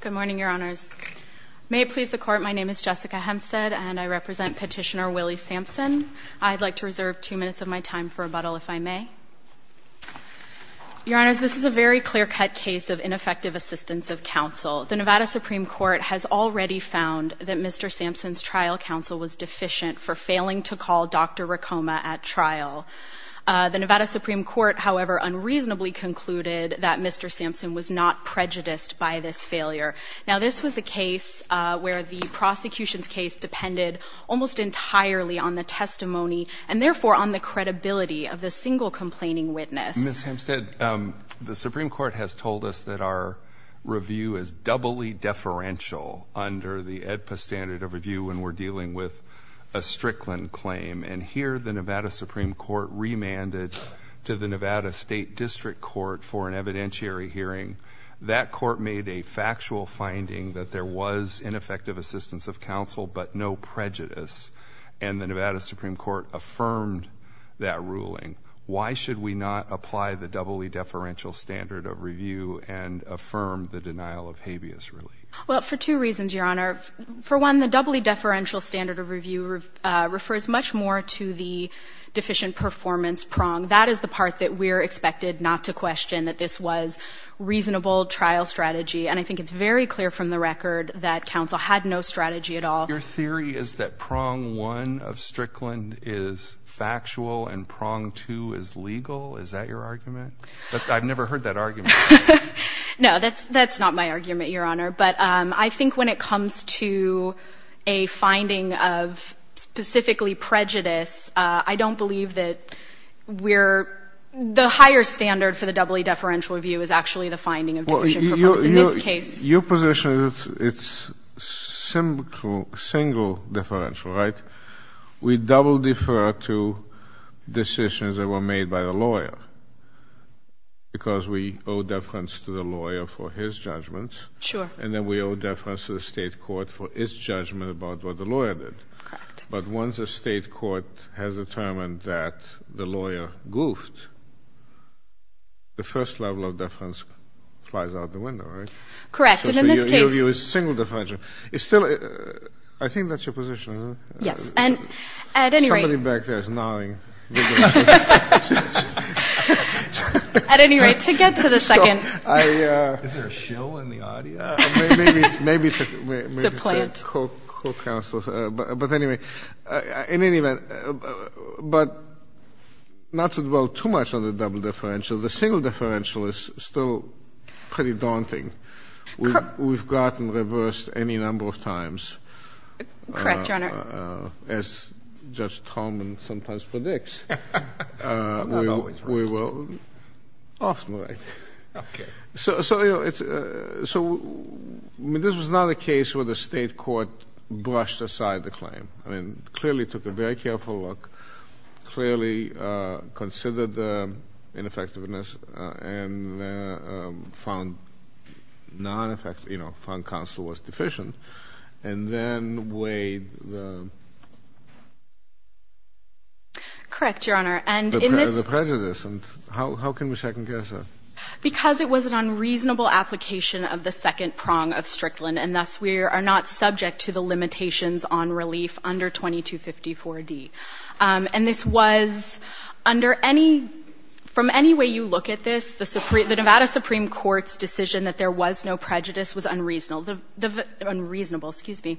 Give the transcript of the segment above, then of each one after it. Good morning, Your Honors. May it please the Court, my name is Jessica Hempstead and I represent petitioner Willie Sampson. I'd like to reserve two minutes of my time for rebuttal, if I may. Your Honors, this is a very clear-cut case of ineffective assistance of counsel. The Nevada Supreme Court has already found that Mr. Sampson's trial counsel was deficient for failing to call Dr. Rekoma at trial. The Nevada Supreme Court, however, unreasonably concluded that Mr. Sampson's trial was a failure. Now this was a case where the prosecution's case depended almost entirely on the testimony and therefore on the credibility of the single complaining witness. Ms. Hempstead, the Supreme Court has told us that our review is doubly deferential under the AEDPA standard of review when we're dealing with a Strickland claim and here the Nevada Supreme Court remanded to the Nevada State District Court for an evidentiary hearing. That court made a factual finding that there was ineffective assistance of counsel but no prejudice and the Nevada Supreme Court affirmed that ruling. Why should we not apply the doubly deferential standard of review and affirm the denial of habeas relief? Well, for two reasons, Your Honor. For one, the doubly deferential standard of review refers much more to the deficient performance prong. That is the part that we're expected not to question, that this was reasonable trial strategy and I think it's very clear from the record that counsel had no strategy at all. Your theory is that prong one of Strickland is factual and prong two is legal? Is that your argument? I've never heard that argument. No, that's that's not my argument, Your Honor, but I think when it comes to a finding of specifically prejudice, I don't believe that we're the higher standard for the doubly deferential review is actually the finding of deficient performance in this case. Your position is it's single differential, right? We double defer to decisions that were made by the lawyer because we owe deference to the lawyer for his judgments. Sure. And then we owe deference to the State court for its judgment about what the lawyer did. Correct. But once a State court has determined that the first level of deference flies out the window, right? Correct. And in this case, you review a single differential. It's still, I think that's your position, isn't it? Yes. And at any rate... Somebody back there is gnawing. At any rate, to get to the second... Is there a shill in the audio? Maybe it's a co-counsel. It's a plant. But anyway, in any event, but not to dwell too much on the double differential. The single differential is still pretty daunting. We've gotten reversed any number of times. Correct, Your Honor. As Judge Tolman sometimes predicts. I'm not always right. Often right. So this was not a case where the State court brushed aside the claim. Clearly took a very careful look. Clearly considered the ineffectiveness and found counsel was deficient. And then weighed the... Correct, Your Honor. The prejudice. And how can we second guess that? Because it was an unreasonable application of the second prong of Strickland, and thus we are not subject to the limitations on relief under 2254D. And this was under any... From any way you look at this, the Nevada Supreme Court's decision that there was no prejudice was unreasonable. The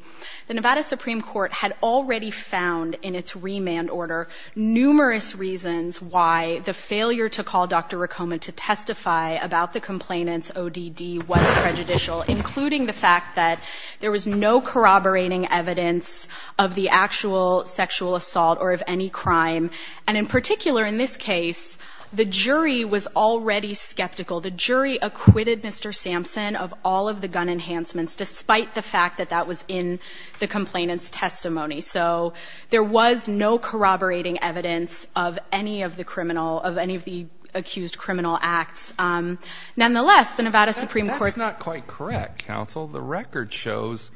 Nevada Supreme Court had already found in its remand order numerous reasons why the failure to call Dr. Rekoma to testify about the complainant's ODD was prejudicial, including the fact that there was no corroborating evidence of the actual sexual assault or of any crime. And in particular in this case, the jury was already skeptical. The jury acquitted Mr. Sampson of all of the gun enhancements despite the fact that that was in the complainant's testimony. So there was no corroborating evidence of any of the criminal, of any of the accused criminal acts. Nonetheless, the Nevada Supreme Court... That's not quite correct, counsel. The record shows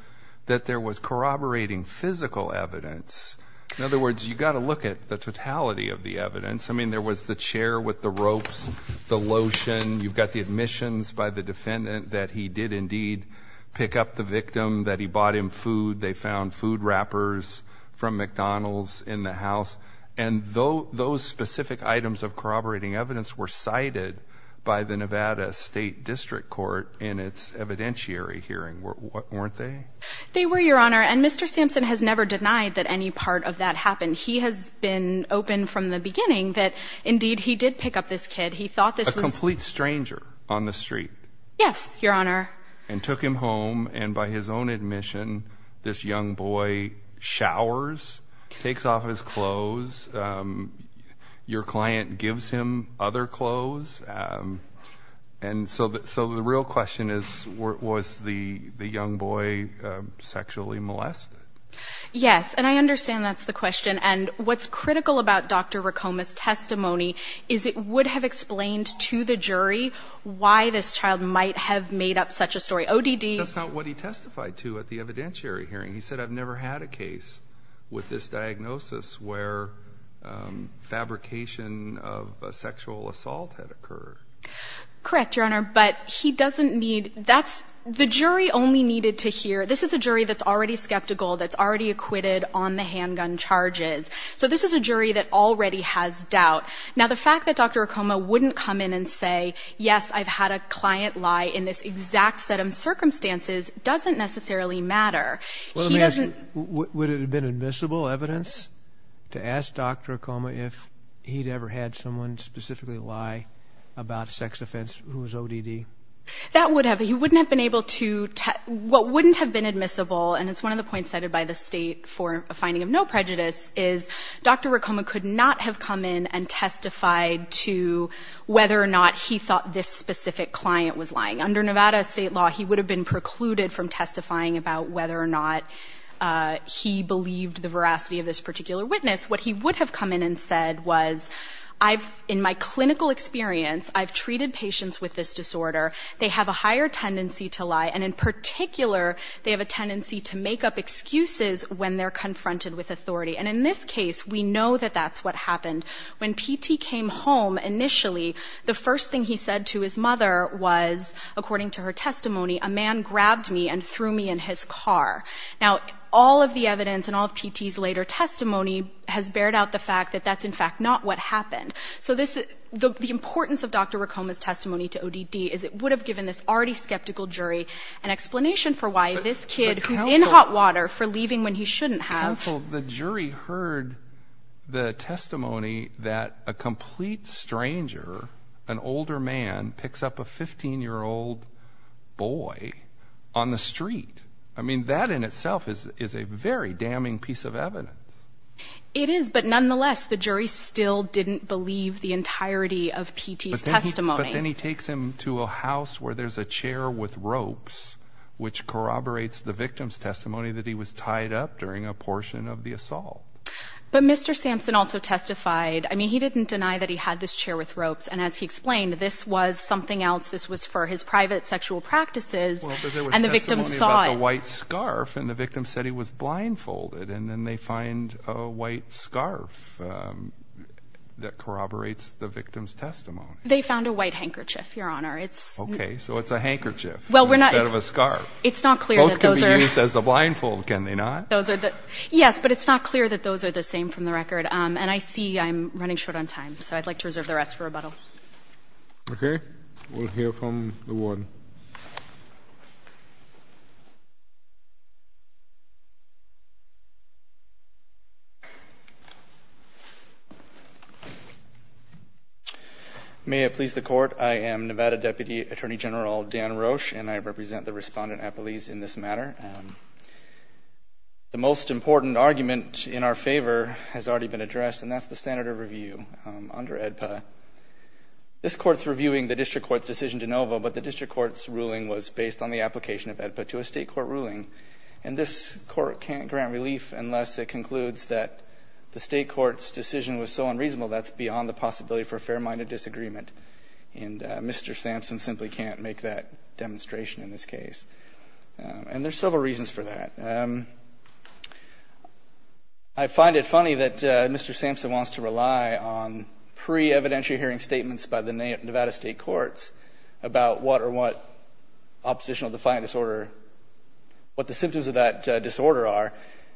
that there was corroborating physical evidence. In other words, you've got to look at the totality of the evidence. I mean, there was the chair with the ropes, the lotion. You've got the admissions by the defendant that he did indeed pick up the victim, that he bought him food. They found food wrappers from McDonald's in the house. And those specific items of corroborating evidence were cited by the Nevada State District Court in its evidentiary hearing, weren't they? They were, Your Honor. And Mr. Sampson has never denied that any part of that happened. He has been open from the beginning that indeed he did pick up this kid. He thought this was... A complete stranger on the street. Yes, Your Honor. And took him home. And by his own admission, this young boy showers, takes off his clothes. Your client gives him other clothes. And so the real question is, was the young boy sexually molested? Yes. And I understand that's the question. And what's critical about Dr. Recoma's testimony is it would have explained to the jury why this child might have made up such a story. ODD... That's not what he testified to at the evidentiary hearing. He said, I've never had a case with this diagnosis where fabrication of a sexual assault had occurred. Correct, Your Honor. But he doesn't need – that's – the jury only needed to hear – this is a jury that's already skeptical, that's already acquitted on the handgun charges. So this is a jury that already has doubt. Now, the fact that Dr. Recoma wouldn't come in and say, yes, I've had a client lie in this exact set of circumstances doesn't necessarily matter. He doesn't... Well, let me ask you, would it have been admissible evidence to ask Dr. Recoma if he'd ever had someone specifically lie about a sex offense who was ODD? That would have. He wouldn't have been able to – what wouldn't have been admissible, and it's one of the points cited by the state for a finding of no prejudice, is Dr. Recoma could not have come in and testified to whether or not he thought this specific client was lying. Under Nevada state law, he would have been precluded from testifying about whether or not he believed the veracity of this particular witness. What he would have come in and said was, I've – in my higher tendency to lie, and in particular, they have a tendency to make up excuses when they're confronted with authority. And in this case, we know that that's what happened. When P.T. came home initially, the first thing he said to his mother was, according to her testimony, a man grabbed me and threw me in his car. Now, all of the evidence and all of P.T.'s later testimony has bared out the fact that that's, in fact, not what happened. So this – the importance of Dr. Recoma's testimony would have given this already skeptical jury an explanation for why this kid who's in hot water for leaving when he shouldn't have. Counsel, the jury heard the testimony that a complete stranger, an older man, picks up a 15-year-old boy on the street. I mean, that in itself is a very damning piece of evidence. It is, but nonetheless, the jury still didn't believe the entirety of P.T.'s testimony. But then he takes him to a house where there's a chair with ropes, which corroborates the victim's testimony that he was tied up during a portion of the assault. But Mr. Sampson also testified – I mean, he didn't deny that he had this chair with ropes, and as he explained, this was something else. This was for his private sexual practices, and the victim saw it. Well, but there was testimony about the white scarf, and the victim said he was blindfolded. And then they find a white scarf that corroborates the victim's testimony. They found a white handkerchief, Your Honor. Okay, so it's a handkerchief instead of a scarf. It's not clear that those are – Both can be used as a blindfold, can they not? Yes, but it's not clear that those are the same from the record. And I see I'm running short on time, so I'd like to reserve the rest for rebuttal. Okay. We'll hear from the warden. May it please the Court, I am Nevada Deputy Attorney General Dan Roche, and I represent the Respondent-Appellees in this matter. The most important argument in our favor has already been addressed, and that's the standard of review under AEDPA. This Court's reviewing the District Court's decision de novo, but the District Court's ruling was based on the application of AEDPA to a State court ruling. And this Court can't grant relief unless it concludes that the State Court's decision was so unreasonable that it's beyond the possibility for fair-minded disagreement. And Mr. Sampson simply can't make that demonstration in this case. And there's several reasons for that. I find it funny that Mr. Sampson wants to rely on pre-evidentiary hearing statements by the Nevada State Courts about what or what oppositional defiant disorder – what the symptoms of that disorder are,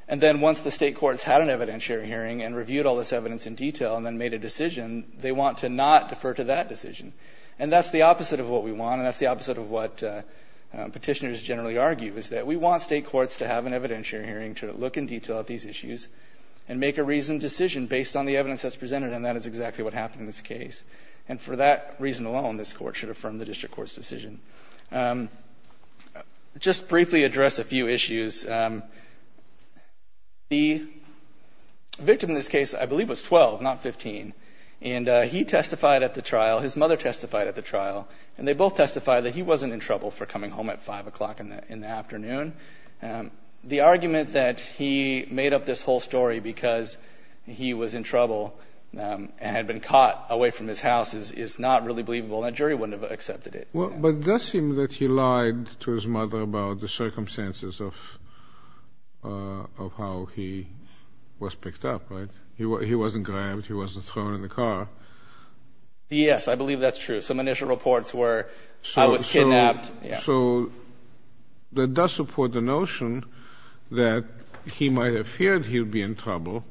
and then once the State Courts had an evidentiary hearing and reviewed all this evidence in detail and made a decision, they want to not defer to that decision. And that's the opposite of what we want, and that's the opposite of what Petitioners generally argue, is that we want State courts to have an evidentiary hearing to look in detail at these issues and make a reasoned decision based on the evidence that's presented, and that is exactly what happened in this case. And for that reason alone, this Court should affirm the District Court's decision. Just briefly address a few issues. The victim in this case, I believe, was 12, not 15, and he testified at the trial, his mother testified at the trial, and they both testified that he wasn't in trouble for coming home at 5 o'clock in the afternoon. The argument that he made up this whole story because he was in trouble and had been caught away from his house is not really believable, and a jury wouldn't have accepted it. But it does seem that he lied to his mother about the circumstances of how he was thrown in the car. Yes, I believe that's true. Some initial reports were I was kidnapped. So that does support the notion that he might have feared he would be in trouble,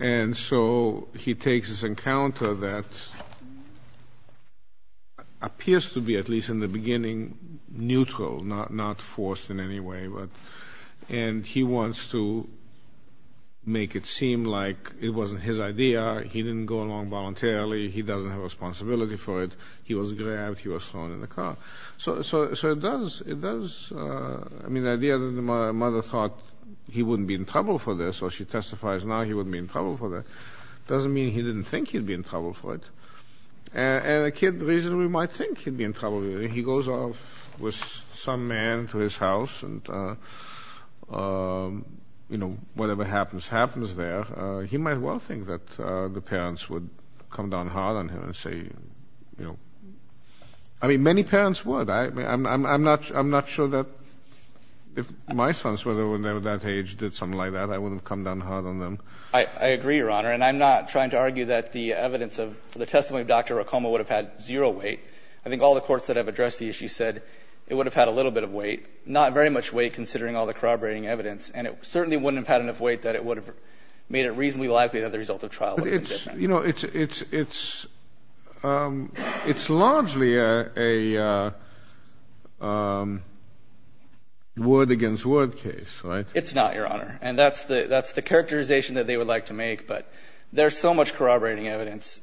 and so he takes this encounter that appears to be, at least in the beginning, neutral, not forced in any way, and he wants to make it seem like it wasn't his idea, he didn't go along voluntarily, he doesn't have a responsibility for it, he was grabbed, he was thrown in the car. So it does, I mean, the idea that the mother thought he wouldn't be in trouble for this, or she testifies now he wouldn't be in trouble for this, doesn't mean he didn't think he'd be in trouble for it. And a kid, the reason we might think he'd be in trouble, he goes off with some man to his house and, you know, whatever happens, happens there, he might well think that the parents would come down hard on him and say, you know. I mean, many parents would. I'm not sure that if my sons were there when they were that age, did something like that, I wouldn't have come down hard on them. I agree, Your Honor, and I'm not trying to argue that the evidence of the testimony of Dr. Racoma would have had zero weight. I think all the courts that have addressed the issue said it would have had a little bit of weight, not very much weight considering all the corroborating evidence, and it certainly wouldn't have had enough weight that it would have made it reasonably likely that the result of trial would have been different. But it's, you know, it's largely a word-against-word case, right? It's not, Your Honor. And that's the characterization that they would like to make. But there's so much corroborating evidence,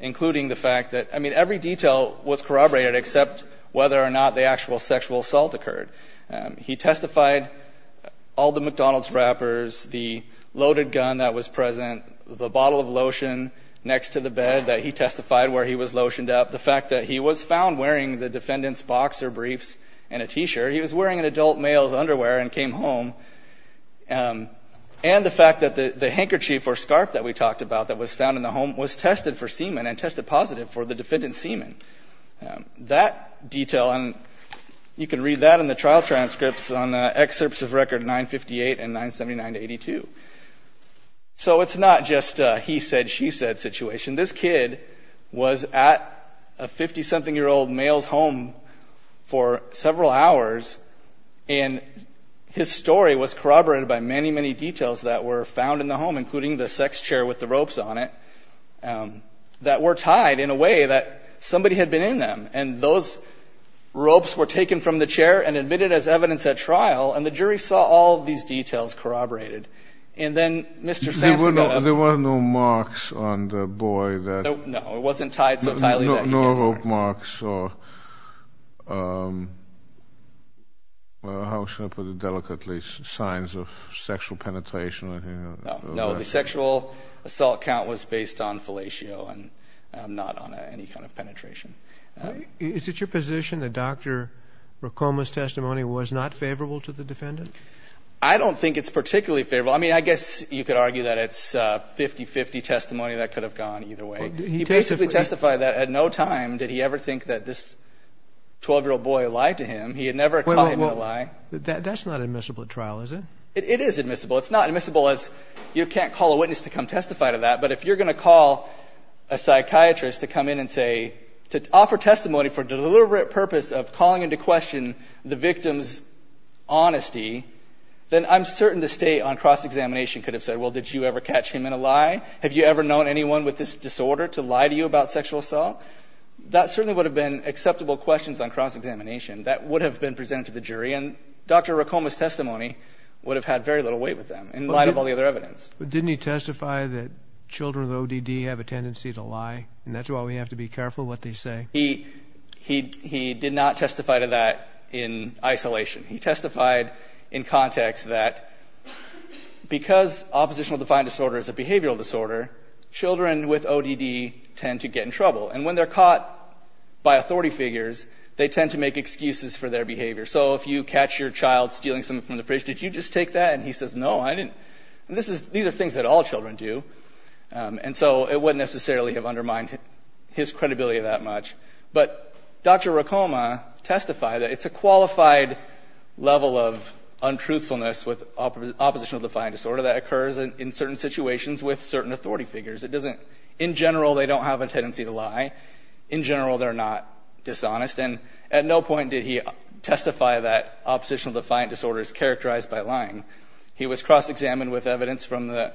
including the fact that, I mean, every detail was corroborated except whether or not the actual sexual assault occurred. He testified, all the McDonald's wrappers, the loaded gun that was present, the bottle of lotion next to the bed that he testified where he was lotioned up, the fact that he was found wearing the defendant's boxer briefs and a T-shirt. He was wearing an adult male's underwear and came home. And the fact that the handkerchief or scarf that we talked about that was found in the home was tested for semen and tested positive for the defendant's semen. That detail, and you can read that in the trial transcripts on excerpts of record 958 and 979-82. So it's not just a he-said-she-said situation. This kid was at a 50-something-year-old male's home for several hours, and his story was corroborated by many, many details that were found in the home, including the sex chair with the ropes on it, that were tied in a way that somebody had been in them. And those ropes were taken from the chair and admitted as evidence at trial, and the jury saw all these details corroborated. And then Mr. Sands got up. There were no marks on the boy. No, it wasn't tied so tightly. No rope marks or, how shall I put it delicately, signs of sexual penetration. No, the sexual assault count was based on fellatio and not on any kind of penetration. Is it your position that Dr. Ricoma's testimony was not favorable to the defendant? I don't think it's particularly favorable. I mean, I guess you could argue that it's 50-50 testimony that could have gone either way. He basically testified that at no time did he ever think that this 12-year-old boy lied to him. He had never caught him in a lie. That's not admissible at trial, is it? It is admissible. It's not admissible as you can't call a witness to come testify to that, but if you're going to call a psychiatrist to come in and say, to offer testimony for deliberate purpose of calling into question the victim's honesty, then I'm certain the state on cross-examination could have said, well, did you ever catch him in a lie? Have you ever known anyone with this disorder to lie to you about sexual assault? That certainly would have been acceptable questions on cross-examination. That would have been presented to the jury, and Dr. Ricoma's testimony would have had very little weight with them in light of all the other evidence. But didn't he testify that children with ODD have a tendency to lie, and that's why we have to be careful what they say? He did not testify to that in isolation. He testified in context that because oppositional defiant disorder is a behavioral disorder, children with ODD tend to get in trouble, and when they're caught by authority figures, they tend to make excuses for their behavior. So if you catch your child stealing something from the fridge, did you just take that? And he says, no, I didn't. These are things that all children do, and so it wouldn't necessarily have undermined his credibility that much. But Dr. Ricoma testified that it's a qualified level of untruthfulness with oppositional defiant disorder that occurs in certain situations with certain authority figures. In general, they don't have a tendency to lie. In general, they're not dishonest, and at no point did he testify that oppositional defiant disorder is characterized by lying. He was cross-examined with evidence from the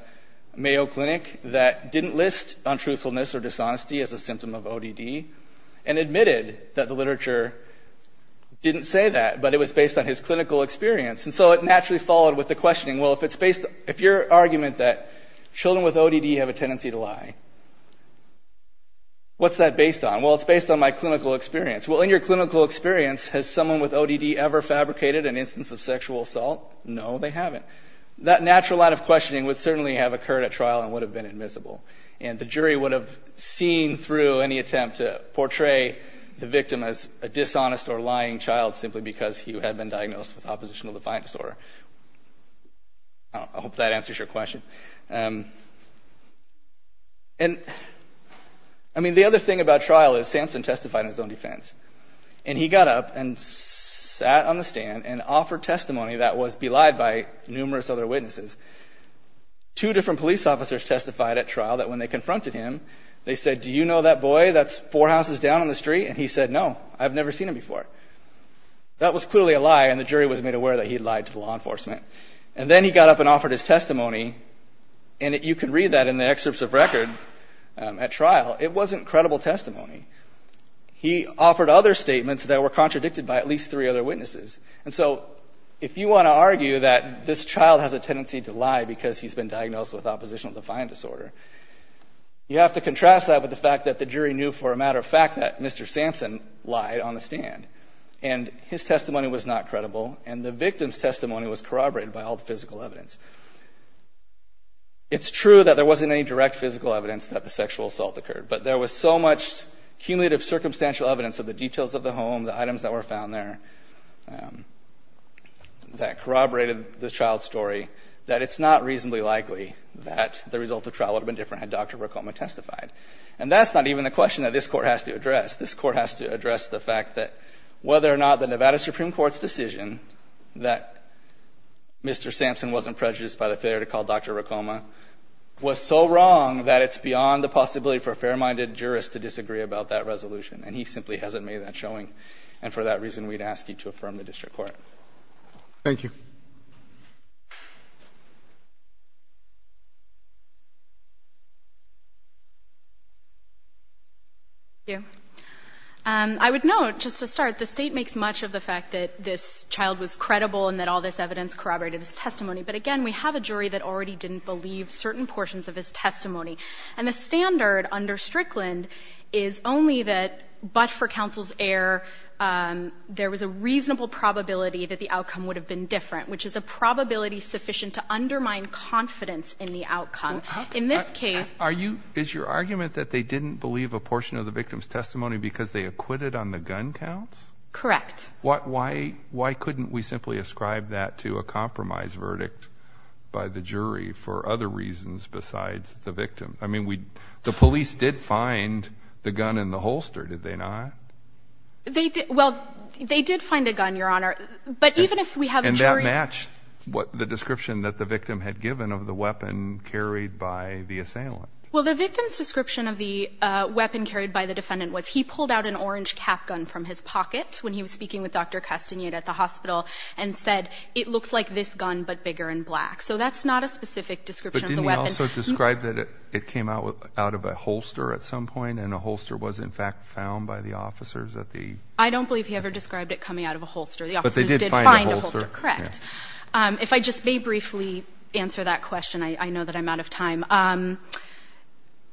Mayo Clinic that didn't list untruthfulness or dishonesty as a symptom of ODD, and admitted that the literature didn't say that, but it was based on his clinical experience. And so it naturally followed with the questioning, well, if your argument that children with ODD have a tendency to lie, what's that based on? Well, it's based on my clinical experience. Well, in your clinical experience, has someone with ODD ever fabricated an instance of sexual assault? No, they haven't. That natural line of questioning would certainly have occurred at trial and would have been admissible, and the jury would have seen through any attempt to portray the victim as a dishonest or lying child simply because he had been diagnosed with oppositional defiant disorder. I hope that answers your question. And, I mean, the other thing about trial is Samson testified in his own defense, and he got up and sat on the stand and offered testimony that was belied by numerous other witnesses. Two different police officers testified at trial that when they confronted him, they said, do you know that boy that's four houses down on the street? And he said, no, I've never seen him before. That was clearly a lie, and the jury was made aware that he had lied to the law enforcement. And then he got up and offered his testimony, and you can read that in the excerpts of record at trial. It wasn't credible testimony. He offered other statements that were contradicted by at least three other witnesses. And so if you want to argue that this child has a tendency to lie because he's been diagnosed with oppositional defiant disorder, you have to contrast that with the fact that the jury knew for a matter of fact that Mr. Samson lied on the stand, and his testimony was not credible, and the victim's testimony was corroborated by all the physical evidence. It's true that there wasn't any direct physical evidence that the sexual assault occurred, but there was so much cumulative circumstantial evidence of the details of the home, the items that were found there that corroborated the child's story, that it's not reasonably likely that the result of the trial would have been different had Dr. Recoma testified. And that's not even the question that this Court has to address. This Court has to address the fact that whether or not the Nevada Supreme Court's decision that Mr. Samson wasn't prejudiced by the failure to call Dr. Recoma was so wrong that it's beyond the possibility for a fair-minded jurist to disagree about that resolution, and he simply hasn't made that showing. And for that reason, we'd ask you to affirm the district court. Thank you. Thank you. I would note, just to start, the State makes much of the fact that this child was credible and that all this evidence corroborated his testimony. But again, we have a jury that already didn't believe certain portions of his testimony. And the standard under Strickland is only that, but for counsel's error, there was a reasonable probability that the outcome would have been different, which is a probability sufficient to undermine confidence in the outcome. In this case, are you — Is your argument that they didn't believe a portion of the victim's testimony because they acquitted on the gun counts? Correct. Why couldn't we simply ascribe that to a compromise verdict by the jury for other reasons besides the victim? I mean, we — the police did find the gun in the holster, did they not? They did — well, they did find a gun, Your Honor. But even if we have a jury — And that matched what the description that the victim had given of the weapon carried by the assailant. Well, the victim's description of the weapon carried by the defendant was he pulled out an orange cap gun from his pocket when he was speaking with Dr. Castagnet at the hospital and said, it looks like this gun, but bigger and black. So that's not a specific description of the weapon. But didn't he also describe that it came out of a holster at some point and a holster was in fact found by the officers at the — I don't believe he ever described it coming out of a holster. The officers did find a holster. But they did find a holster. Correct. If I just may briefly answer that question. I know that I'm out of time.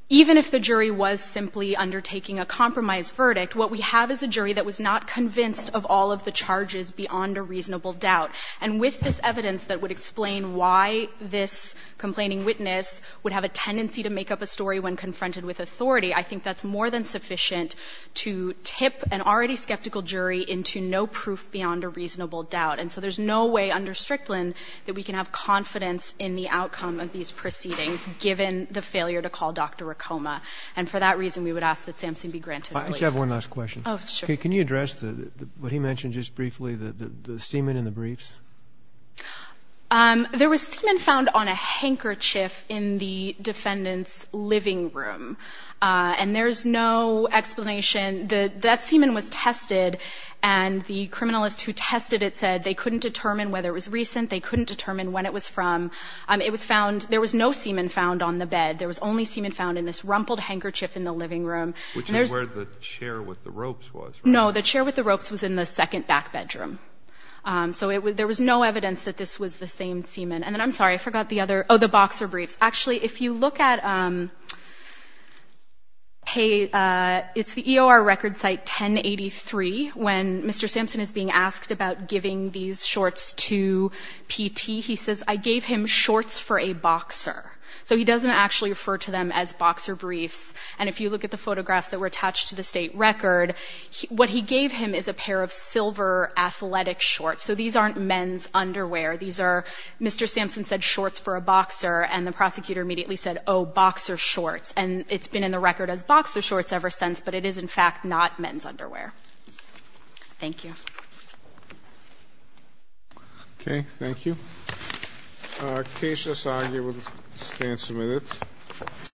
Even if the jury was simply undertaking a compromise verdict, what we have is a jury that was not convinced of all of the charges beyond a reasonable doubt. And with this evidence that would explain why this complaining witness would have a tendency to make up a story when confronted with authority, I think that's more than sufficient to tip an already skeptical jury into no proof beyond a reasonable doubt. And so there's no way under Strickland that we can have confidence in the outcome of these proceedings, given the failure to call Dr. Ricoma. And for that reason, we would ask that Samson be granted relief. I just have one last question. Oh, sure. Okay. Can you address what he mentioned just briefly, the semen in the briefs? There was semen found on a handkerchief in the defendant's living room. And there's no explanation. That semen was tested. And the criminalist who tested it said they couldn't determine whether it was recent. They couldn't determine when it was from. It was found — there was no semen found on the bed. There was only semen found in this rumpled handkerchief in the living room. Which is where the chair with the ropes was, right? No. The chair with the ropes was in the second back bedroom. So there was no evidence that this was the same semen. And then I'm sorry. I forgot the other — oh, the boxer briefs. Actually, if you look at — hey, it's the EOR record site 1083, when Mr. Samson is being asked about giving these shorts to PT. He says, I gave him shorts for a boxer. So he doesn't actually refer to them as boxer briefs. And if you look at the photographs that were attached to the State record, what he gave him is a pair of silver athletic shorts. So these aren't men's underwear. These are — Mr. Samson said shorts for a boxer, and the prosecutor immediately said, oh, boxer shorts. And it's been in the record as boxer shorts ever since, but it is, in fact, not men's underwear. Thank you. Okay. Thank you. Case, this argument stands submitted.